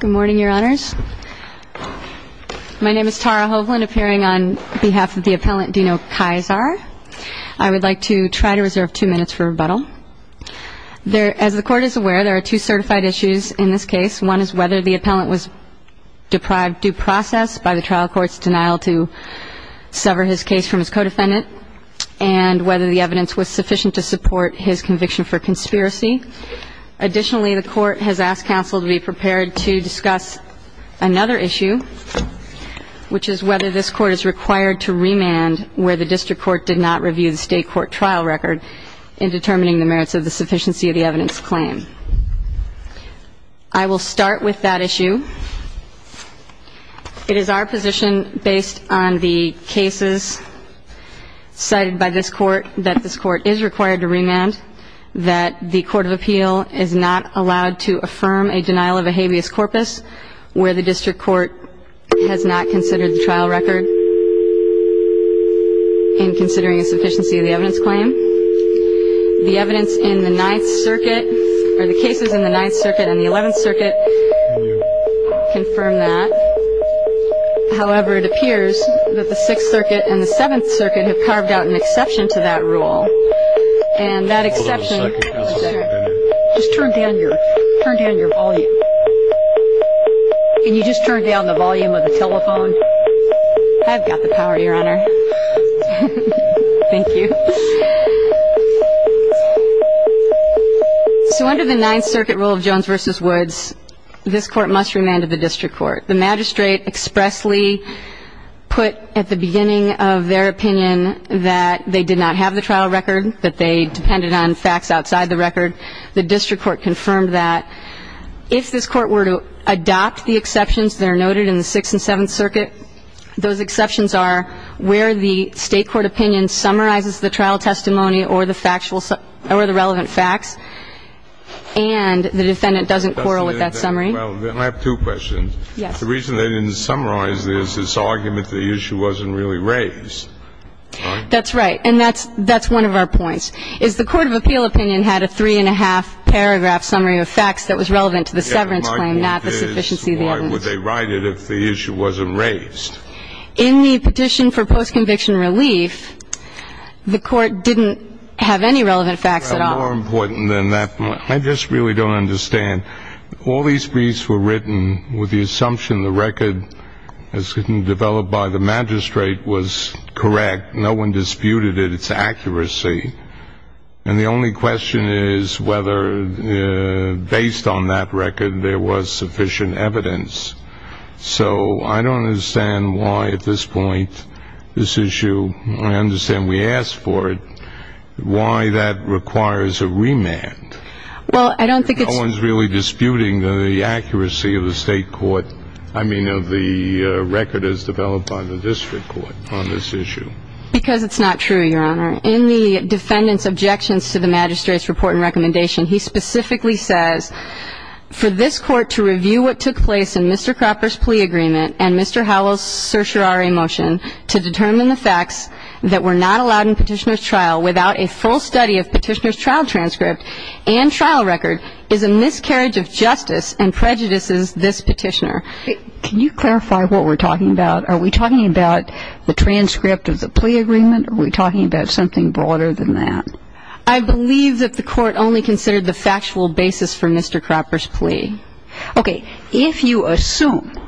Good morning, your honors. My name is Tara Hovland, appearing on behalf of the appellant Dino Kyzar. I would like to try to reserve two minutes for rebuttal. As the court is aware, there are two certified issues in this case. One is whether the appellant was deprived due process by the trial court's denial to sever his case from his co-defendant, and whether the evidence was sufficient to support his conviction for conspiracy. Additionally, the court has asked counsel to be prepared to discuss another issue, which is whether this court is required to remand where the district court did not review the state court trial record in determining the merits of the sufficiency of the evidence claim. I will start with that issue. It is our position, based on the cases cited by this court, that this court is required to remand, that the district court has not considered the trial record in considering a sufficiency of the evidence claim. The evidence in the Ninth Circuit, or the cases in the Ninth Circuit and the Eleventh Circuit confirm that. However, it appears that the Sixth Circuit and the Seventh Circuit have carved out an exception to the Ninth Circuit rule, and that exception, just turn down your volume. Can you just turn down the volume of the telephone? I've got the power, Your Honor. Thank you. So under the Ninth Circuit rule of Jones v. Woods, this court must remand to the district court. The magistrate expressly put at the beginning of their opinion that they did not have the trial record, that they depended on facts outside the record. The district court confirmed that. If this court were to adopt the exceptions that are noted in the Sixth and Seventh Circuit, those exceptions are where the state court opinion summarizes the trial testimony or the factual or the relevant facts, and the defendant doesn't quarrel with that summary. Well, then I have two questions. Yes. The reason they didn't summarize this is argument the issue wasn't really raised. That's right. And that's one of our points, is the court of appeal opinion had a three and a half paragraph summary of facts that was relevant to the severance claim, not the sufficiency of the evidence. Why would they write it if the issue wasn't raised? In the petition for post-conviction relief, the court didn't have any relevant facts at all. More important than that, I just really don't understand. All these briefs were written with the assumption the record as developed by the magistrate was correct. No one disputed its accuracy. And the only question is whether based on that record there was sufficient evidence. So I don't understand why at this point, this is a remand. Well, I don't think it's... No one's really disputing the accuracy of the state court, I mean, of the record as developed by the district court on this issue. Because it's not true, Your Honor. In the defendant's objections to the magistrate's report and recommendation, he specifically says, for this court to review what took place in Mr. Cropper's plea agreement and Mr. Howell's certiorari motion to determine the facts that were not allowed in Petitioner's trial without a full study of Petitioner's trial transcript and trial record is a miscarriage of justice and prejudices this Petitioner. Can you clarify what we're talking about? Are we talking about the transcript of the plea agreement? Are we talking about something broader than that? I believe that the court only considered the factual basis for Mr. Cropper's plea. Okay. If you assume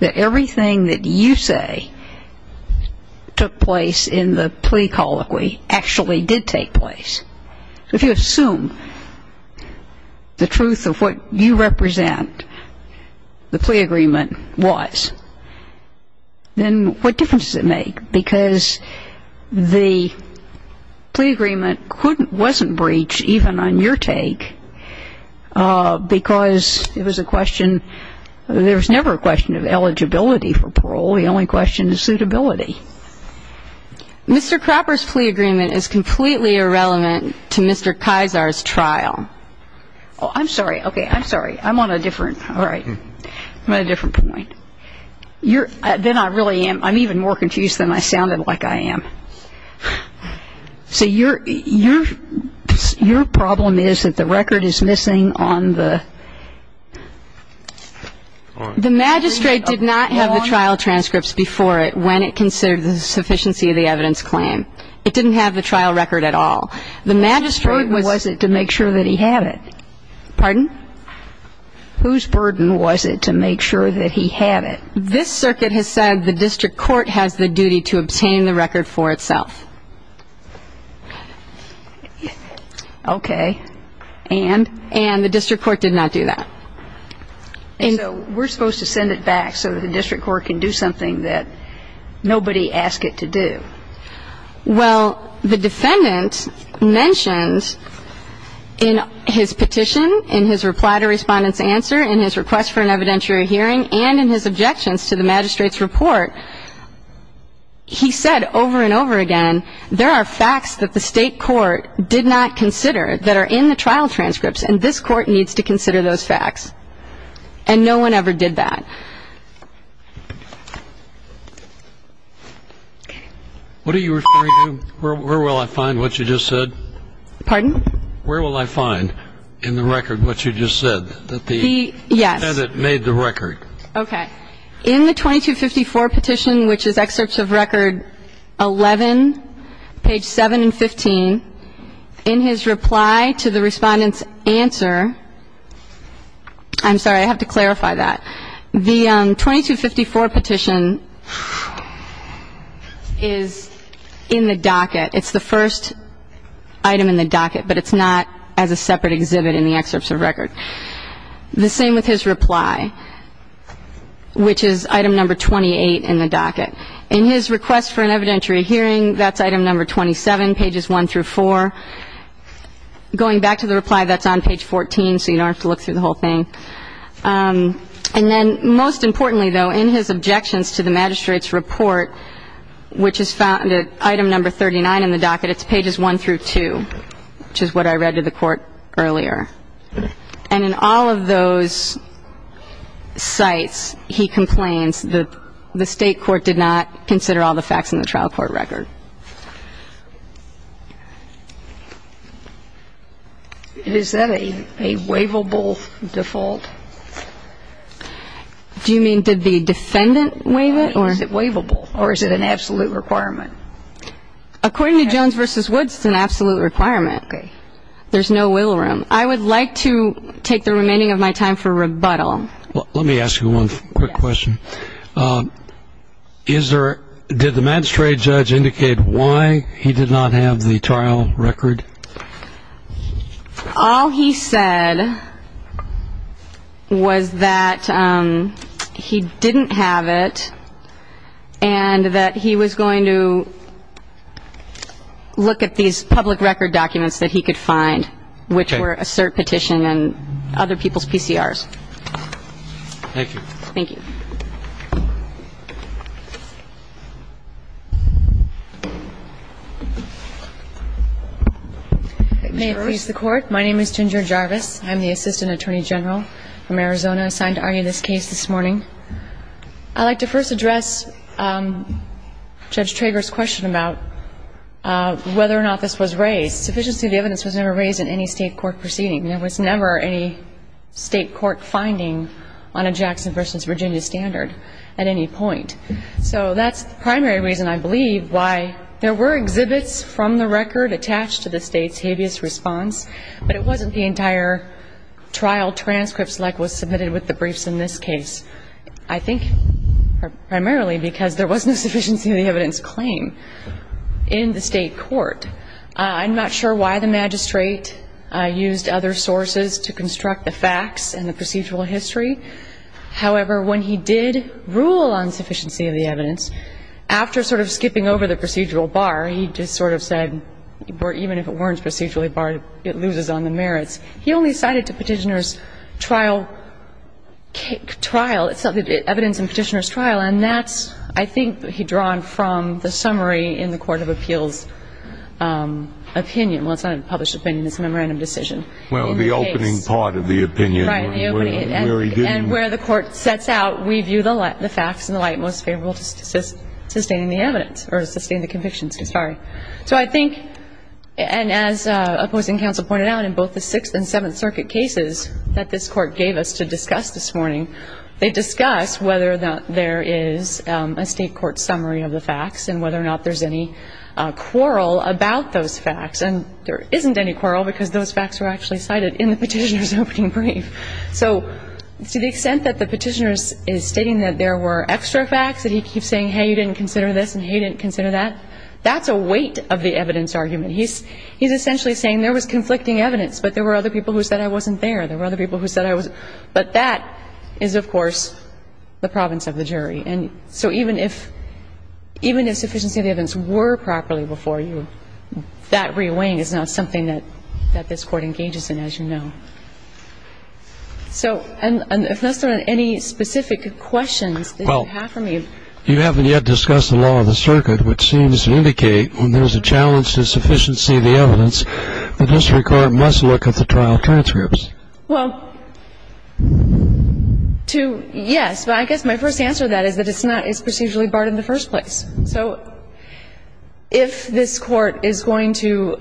that everything that you say took place in the plea colloquy actually did take place, if you assume the truth of what you represent the plea agreement was, then what difference does it make? Because the plea agreement couldn't, wasn't breached even on your take because it was a question, there was never a question of eligibility for parole. The only question is suitability. Mr. Cropper's plea agreement is completely irrelevant to Mr. Kysar's trial. Oh, I'm sorry. Okay. I'm sorry. I'm on a different, all right. I'm on a different point. You're, then I really am, I'm even more confused than I sounded like I am. So you're, you're, your problem is that the record is missing on the, the magistrate It did not have the trial transcripts before it when it considered the sufficiency of the evidence claim. It didn't have the trial record at all. The magistrate was Whose burden was it to make sure that he had it? Pardon? Whose burden was it to make sure that he had it? This circuit has said the district court has the duty to obtain the record for itself. Okay. And? And the district court did not do that. And so we're supposed to send it back so that the district court can do something that nobody asked it to do. Well, the defendant mentioned in his petition, in his reply to Respondent's answer, in his request for an evidentiary hearing, and in his objections to the magistrate's report, he said over and over again, there are facts that the state court did not consider that are in the trial transcripts, and this court needs to consider those facts. And no one ever did that. What are you referring to? Where will I find what you just said? Pardon? Where will I find in the record what you just said? The, yes. That it made the record. Okay. In the 2254 petition, which is excerpts of record 11, page 7 and 15, in his reply to the Respondent's answer, I'm sorry, I have to clarify that. The 2254 petition is in the docket. It's the first item in the docket, but it's not as a separate exhibit in the excerpts of record. The same with his reply, which is item number 28 in the docket. In his request for an evidentiary hearing, that's item number 27, pages 1 through 4. Going back to the reply, that's on page 14, so you don't have to look through the whole thing. And then, most importantly, though, in his objections to the magistrate's report, which is found at item number 39 in the docket, it's pages 1 through 2, which is what I read to the court earlier. And in all of those sites, he complains that the state court did not consider all the facts in the trial court record. Is that a waivable default? Do you mean did the defendant waive it, or? Is it waivable, or is it an absolute requirement? According to Jones v. Woods, it's an absolute requirement. Okay. There's no wiggle room. I would like to take the remaining of my time for rebuttal. Let me ask you one quick question. Did the magistrate judge indicate why he did not have the trial record? All he said was that he didn't have it, and that he was going to look at these public record documents that he could find, which were a cert petition and other people's PCRs. Thank you. Thank you. May it please the Court. My name is Ginger Jarvis. I'm the Assistant Attorney General from Arizona assigned to argue this case this morning. I'd like to first address Judge Trager's question about whether or not this was raised. Sufficiency of the evidence was never raised in any State court proceeding. There was never any State court finding on a Jackson v. Virginia standard at any point. So that's the primary reason, I believe, why there were exhibits from the record attached to the State's habeas response, but it wasn't the entire trial transcript select was submitted with the briefs in this case. I think primarily because there was no sufficiency of the evidence claim in the State court. I'm not sure why the magistrate used other sources to construct the facts and the procedural history. However, when he did rule on sufficiency of the evidence, after sort of skipping over the procedural bar, he just sort of said, even if it weren't procedurally barred, it loses on the merits. He only cited to Petitioner's trial evidence in Petitioner's trial, and that's, I think, drawn from the summary in the Court of Appeals' opinion. Well, it's not a published opinion. It's a memorandum decision. Well, the opening part of the opinion. Right. And where the Court sets out, we view the facts in the light most favorable to sustaining the evidence, or to sustain the convictions. Sorry. So I think, and as opposing counsel pointed out in both the Sixth and Seventh Circuit cases that this Court gave us to discuss this morning, they discuss whether or not there is a State court summary of the facts and whether or not there's any quarrel about those facts. And there isn't any quarrel, because those facts were actually cited in the Petitioner's opening brief. So to the extent that the Petitioner is stating that there were extra facts, that he keeps saying, hey, you didn't consider this, and hey, you didn't consider that, that's a weight of the evidence argument. He's essentially saying there was conflicting evidence, but there were other people who said I wasn't there. There were other people who said I wasn't. But that is, of course, the province of the jury. And so even if sufficiency of the evidence were properly before you, that re-weighing is not something that this Court engages in, as you know. So, and if there's not any specific questions that you have for me. Well, you haven't yet discussed the law of the circuit, which seems to indicate when there's a challenge to sufficiency of the evidence, the district court must look at the trial transcripts. Well, to, yes, but I guess my first answer to that is that it's not, it's procedurally barred in the first place. So if this Court is going to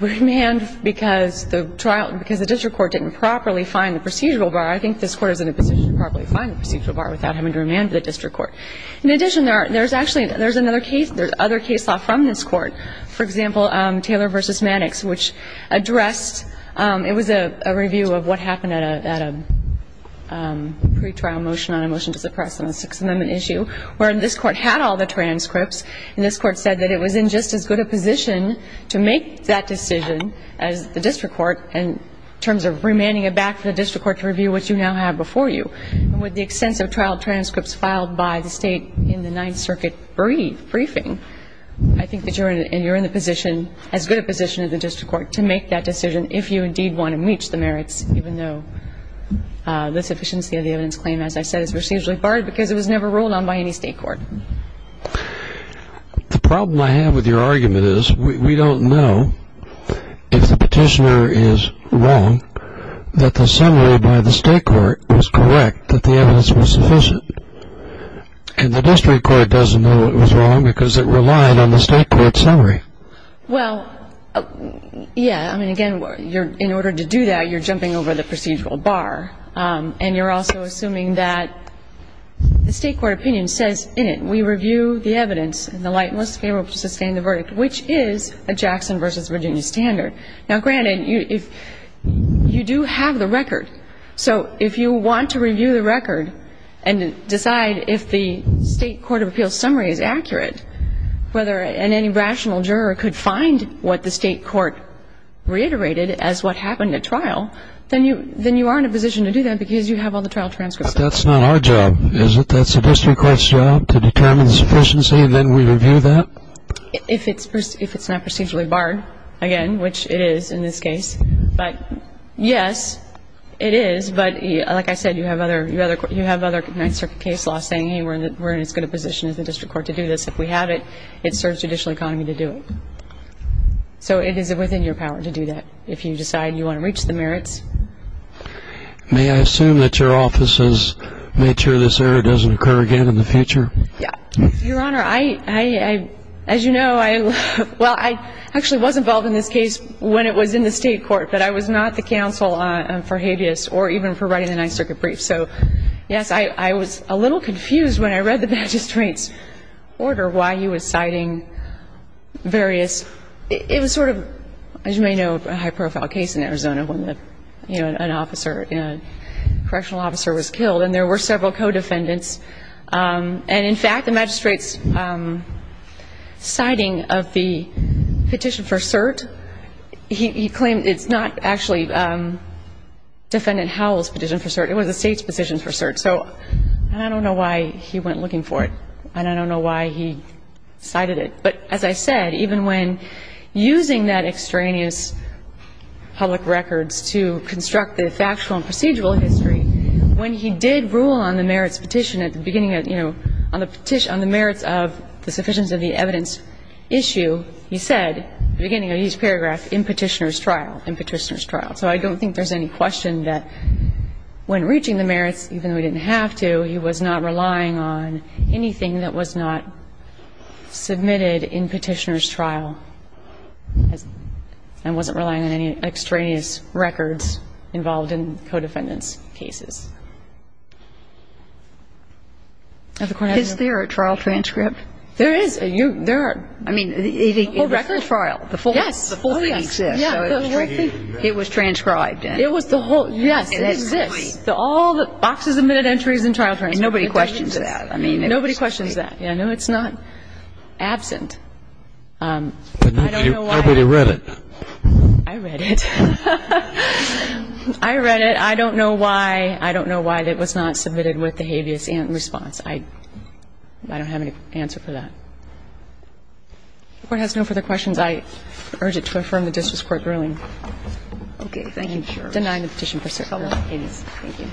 remand because the trial, because the district court didn't properly find the procedural bar, I think this Court is in a position to properly find the procedural bar without having to remand the district court. In addition, there's actually, there's another case, there's other case law from this view of what happened at a, at a pretrial motion on a motion to suppress on a Sixth Amendment issue, where this Court had all the transcripts, and this Court said that it was in just as good a position to make that decision as the district court in terms of remanding it back for the district court to review what you now have before you. And with the extensive trial transcripts filed by the State in the Ninth Circuit brief, briefing, I think that you're in, and you're in the position, as good a position as the district court, to make that decision if you indeed want to reach the merits, even though the sufficiency of the evidence claim, as I said, is procedurally barred because it was never ruled on by any State court. The problem I have with your argument is we don't know if the petitioner is wrong, that the summary by the State court was correct, that the evidence was sufficient. And the district court doesn't know it was wrong because it relied on the State court's summary. Well, yeah, I mean, again, in order to do that, you're jumping over the procedural bar, and you're also assuming that the State court opinion says in it, we review the evidence in the light most favorable to sustain the verdict, which is a Jackson v. Virginia standard. Now, granted, you do have the record. So if you want to review the record and decide if the State court of appeals summary is accurate, and any rational juror could find what the State court reiterated as what happened at trial, then you are in a position to do that because you have all the trial transcripts. But that's not our job, is it? That's the district court's job to determine the sufficiency, and then we review that? If it's not procedurally barred, again, which it is in this case. But, yes, it is. But, like I said, you have other Ninth Circuit case laws saying we're in as good a position as the district court to do this. If we have it, it serves judicial economy to do it. So it is within your power to do that if you decide you want to reach the merits. May I assume that your office has made sure this error doesn't occur again in the future? Yes. Your Honor, I, as you know, well, I actually was involved in this case when it was in the State court, but I was not the counsel for habeas or even for writing the Ninth Circuit brief. So, yes, I was a little confused when I read the magistrate's order why he was citing various – it was sort of, as you may know, a high-profile case in Arizona when an officer, a correctional officer was killed, and there were several co-defendants. And, in fact, the magistrate's citing of the petition for cert, he claimed it's not actually defendant Howell's petition for cert. It was the State's petition for cert. So I don't know why he went looking for it, and I don't know why he cited it. But, as I said, even when using that extraneous public records to construct the factual and procedural history, when he did rule on the merits petition at the beginning of, you know, on the merits of the sufficiency of the evidence issue, he said at the beginning of each paragraph, in Petitioner's trial, in Petitioner's trial. So I don't think there's any question that when reaching the merits, even though he didn't have to, he was not relying on anything that was not submitted in Petitioner's trial and wasn't relying on any extraneous records involved in co-defendant's cases. Of the court has no ---- Is there a trial transcript? There is. There are. I mean, it's a record trial. Yes. Oh, yes. It exists. It was transcribed. It was the whole ---- Yes. It exists. All the boxes of minute entries and trial transcripts. Nobody questions that. Nobody questions that. No, it's not absent. I don't know why. I read it. I read it. I read it. I don't know why. I don't know why it was not submitted with the habeas in response. I don't have any answer for that. The court has no further questions. I urge it to affirm the district's court ruling. Okay. Thank you. Denying the petition for cert. Thank you.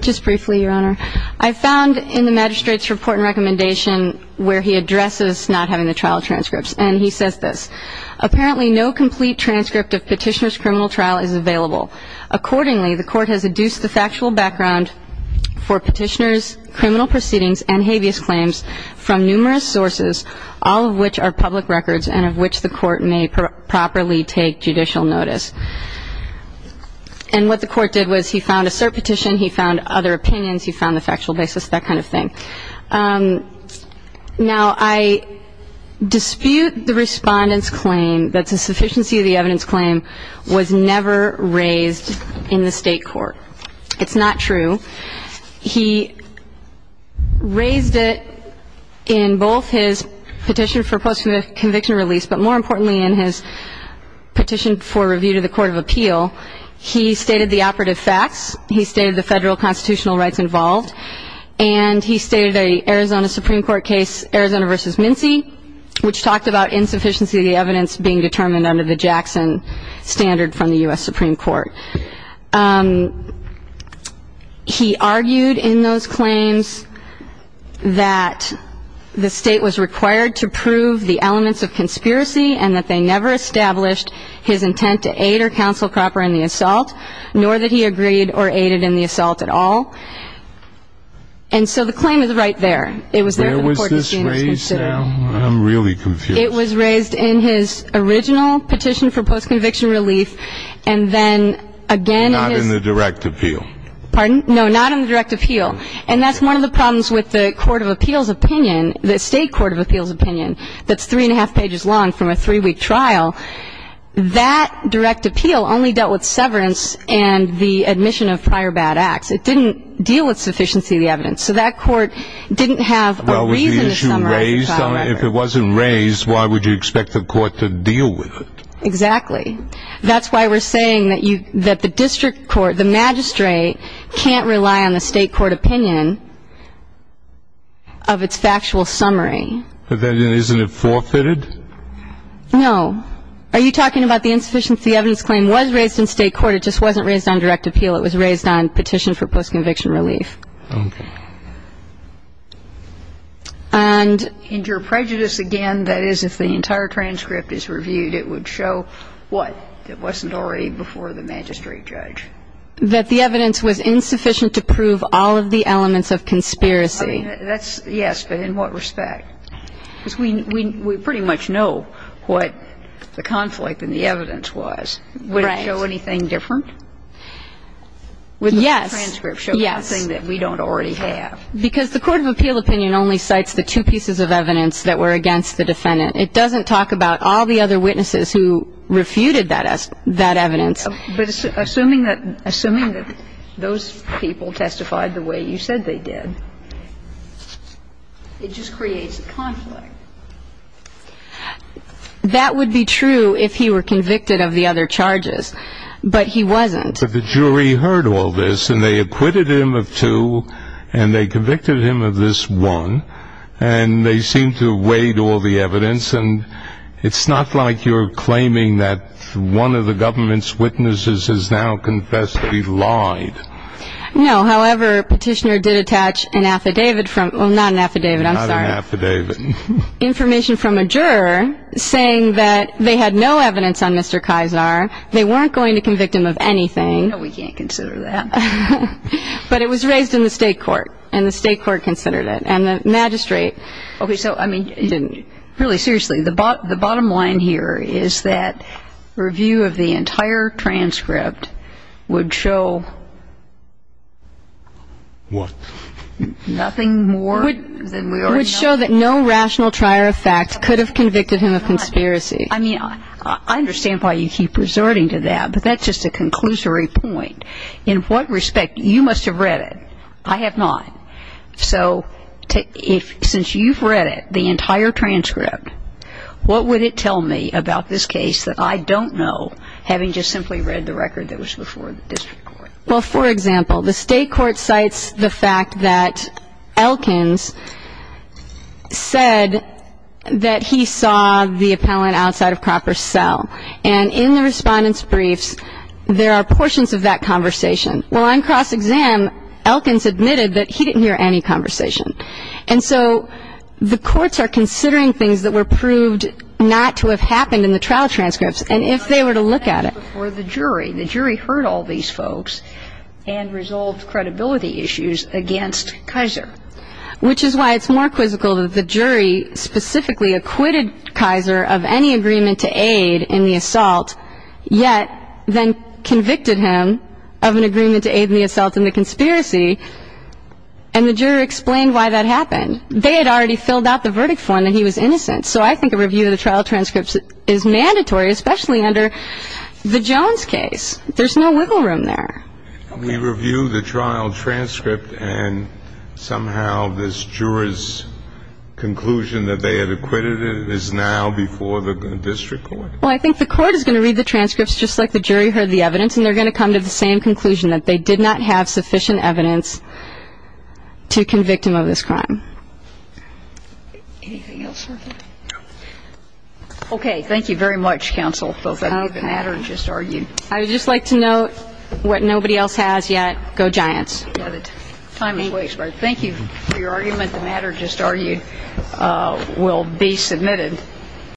Just briefly, Your Honor. I found in the magistrate's report and recommendation where he addresses not having the trial transcripts. And he says this. Apparently no complete transcript of Petitioner's criminal trial is available. Accordingly, the court has adduced the factual background for Petitioner's criminal proceedings and habeas claims from numerous sources, all of which are public records and of which the court may properly take judicial notice. And what the court did was he found a cert petition, he found other opinions, he found the factual basis, that kind of thing. Now, I dispute the Respondent's claim that the sufficiency of the evidence in Petitioner's claim was never raised in the state court. It's not true. He raised it in both his petition for post-conviction release, but more importantly in his petition for review to the court of appeal. He stated the operative facts. He stated the federal constitutional rights involved. He argued in those claims that the state was required to prove the elements of conspiracy and that they never established his intent to aid or counsel Cropper in the assault, nor that he agreed or aided in the assault at all. And so the claim is right there. I'm really confused. It was raised in his original petition for post-conviction relief and then again in his Not in the direct appeal. Pardon? No, not in the direct appeal. And that's one of the problems with the court of appeals opinion, the state court of appeals opinion, that's three and a half pages long from a three-week trial. That direct appeal only dealt with severance and the admission of prior bad acts. It didn't deal with sufficiency of the evidence. So that court didn't have a reason to summarize the trial record. Well, was the issue raised? If it wasn't raised, why would you expect the court to deal with it? Exactly. That's why we're saying that the district court, the magistrate, can't rely on the state court opinion of its factual summary. But then isn't it forfeited? No. Are you talking about the insufficiency of the evidence claim was raised in state court? It just wasn't raised on direct appeal. It was raised on petition for post-conviction relief. Okay. And your prejudice, again, that is if the entire transcript is reviewed, it would show what? It wasn't already before the magistrate judge. That the evidence was insufficient to prove all of the elements of conspiracy. That's yes, but in what respect? Because we pretty much know what the conflict in the evidence was. Right. Would it show anything different? Yes. The transcript shows something that we don't already have. Because the court of appeal opinion only cites the two pieces of evidence that were against the defendant. It doesn't talk about all the other witnesses who refuted that evidence. But assuming that those people testified the way you said they did, it just creates a conflict. That would be true if he were convicted of the other charges, but he wasn't. Well, but the jury heard all this, and they acquitted him of two, and they convicted him of this one. And they seem to have weighed all the evidence. And it's not like you're claiming that one of the government's witnesses has now confessed that he lied. No. However, Petitioner did attach an affidavit from, well, not an affidavit, I'm sorry. Not an affidavit. Information from a juror saying that they had no evidence on Mr. Kaisar. They weren't going to convict him of anything. No, we can't consider that. But it was raised in the state court, and the state court considered it. And the magistrate didn't. Okay. So, I mean, really seriously, the bottom line here is that review of the entire transcript would show what? Nothing more than we already know. It would show that no rational trier of facts could have convicted him of conspiracy. I mean, I understand why you keep resorting to that, but that's just a conclusory point. In what respect? You must have read it. I have not. So since you've read it, the entire transcript, what would it tell me about this case that I don't know, having just simply read the record that was before the district court? Well, for example, the state court cites the fact that Elkins said that he saw the appellant outside of Cropper's cell. And in the Respondent's Briefs, there are portions of that conversation. Well, on cross-exam, Elkins admitted that he didn't hear any conversation. And so the courts are considering things that were proved not to have happened in the trial transcripts, and if they were to look at it. The jury heard all these folks and resolved credibility issues against Kaiser, which is why it's more quizzical that the jury specifically acquitted Kaiser of any agreement to aid in the assault, yet then convicted him of an agreement to aid in the assault in the conspiracy, and the juror explained why that happened. They had already filled out the verdict for him that he was innocent. So I think a review of the trial transcripts is mandatory, especially under the Jones case. There's no wiggle room there. We review the trial transcript, and somehow this juror's conclusion that they had acquitted him is now before the district court? Well, I think the court is going to read the transcripts just like the jury heard the evidence, and they're going to come to the same conclusion, that they did not have sufficient evidence to convict him of this crime. Anything else? No. Okay. Thank you very much, counsel. Thank you. The matter just argued. I would just like to note what nobody else has yet. Go Giants. Time is wasted. Thank you for your argument. The matter just argued will be submitted.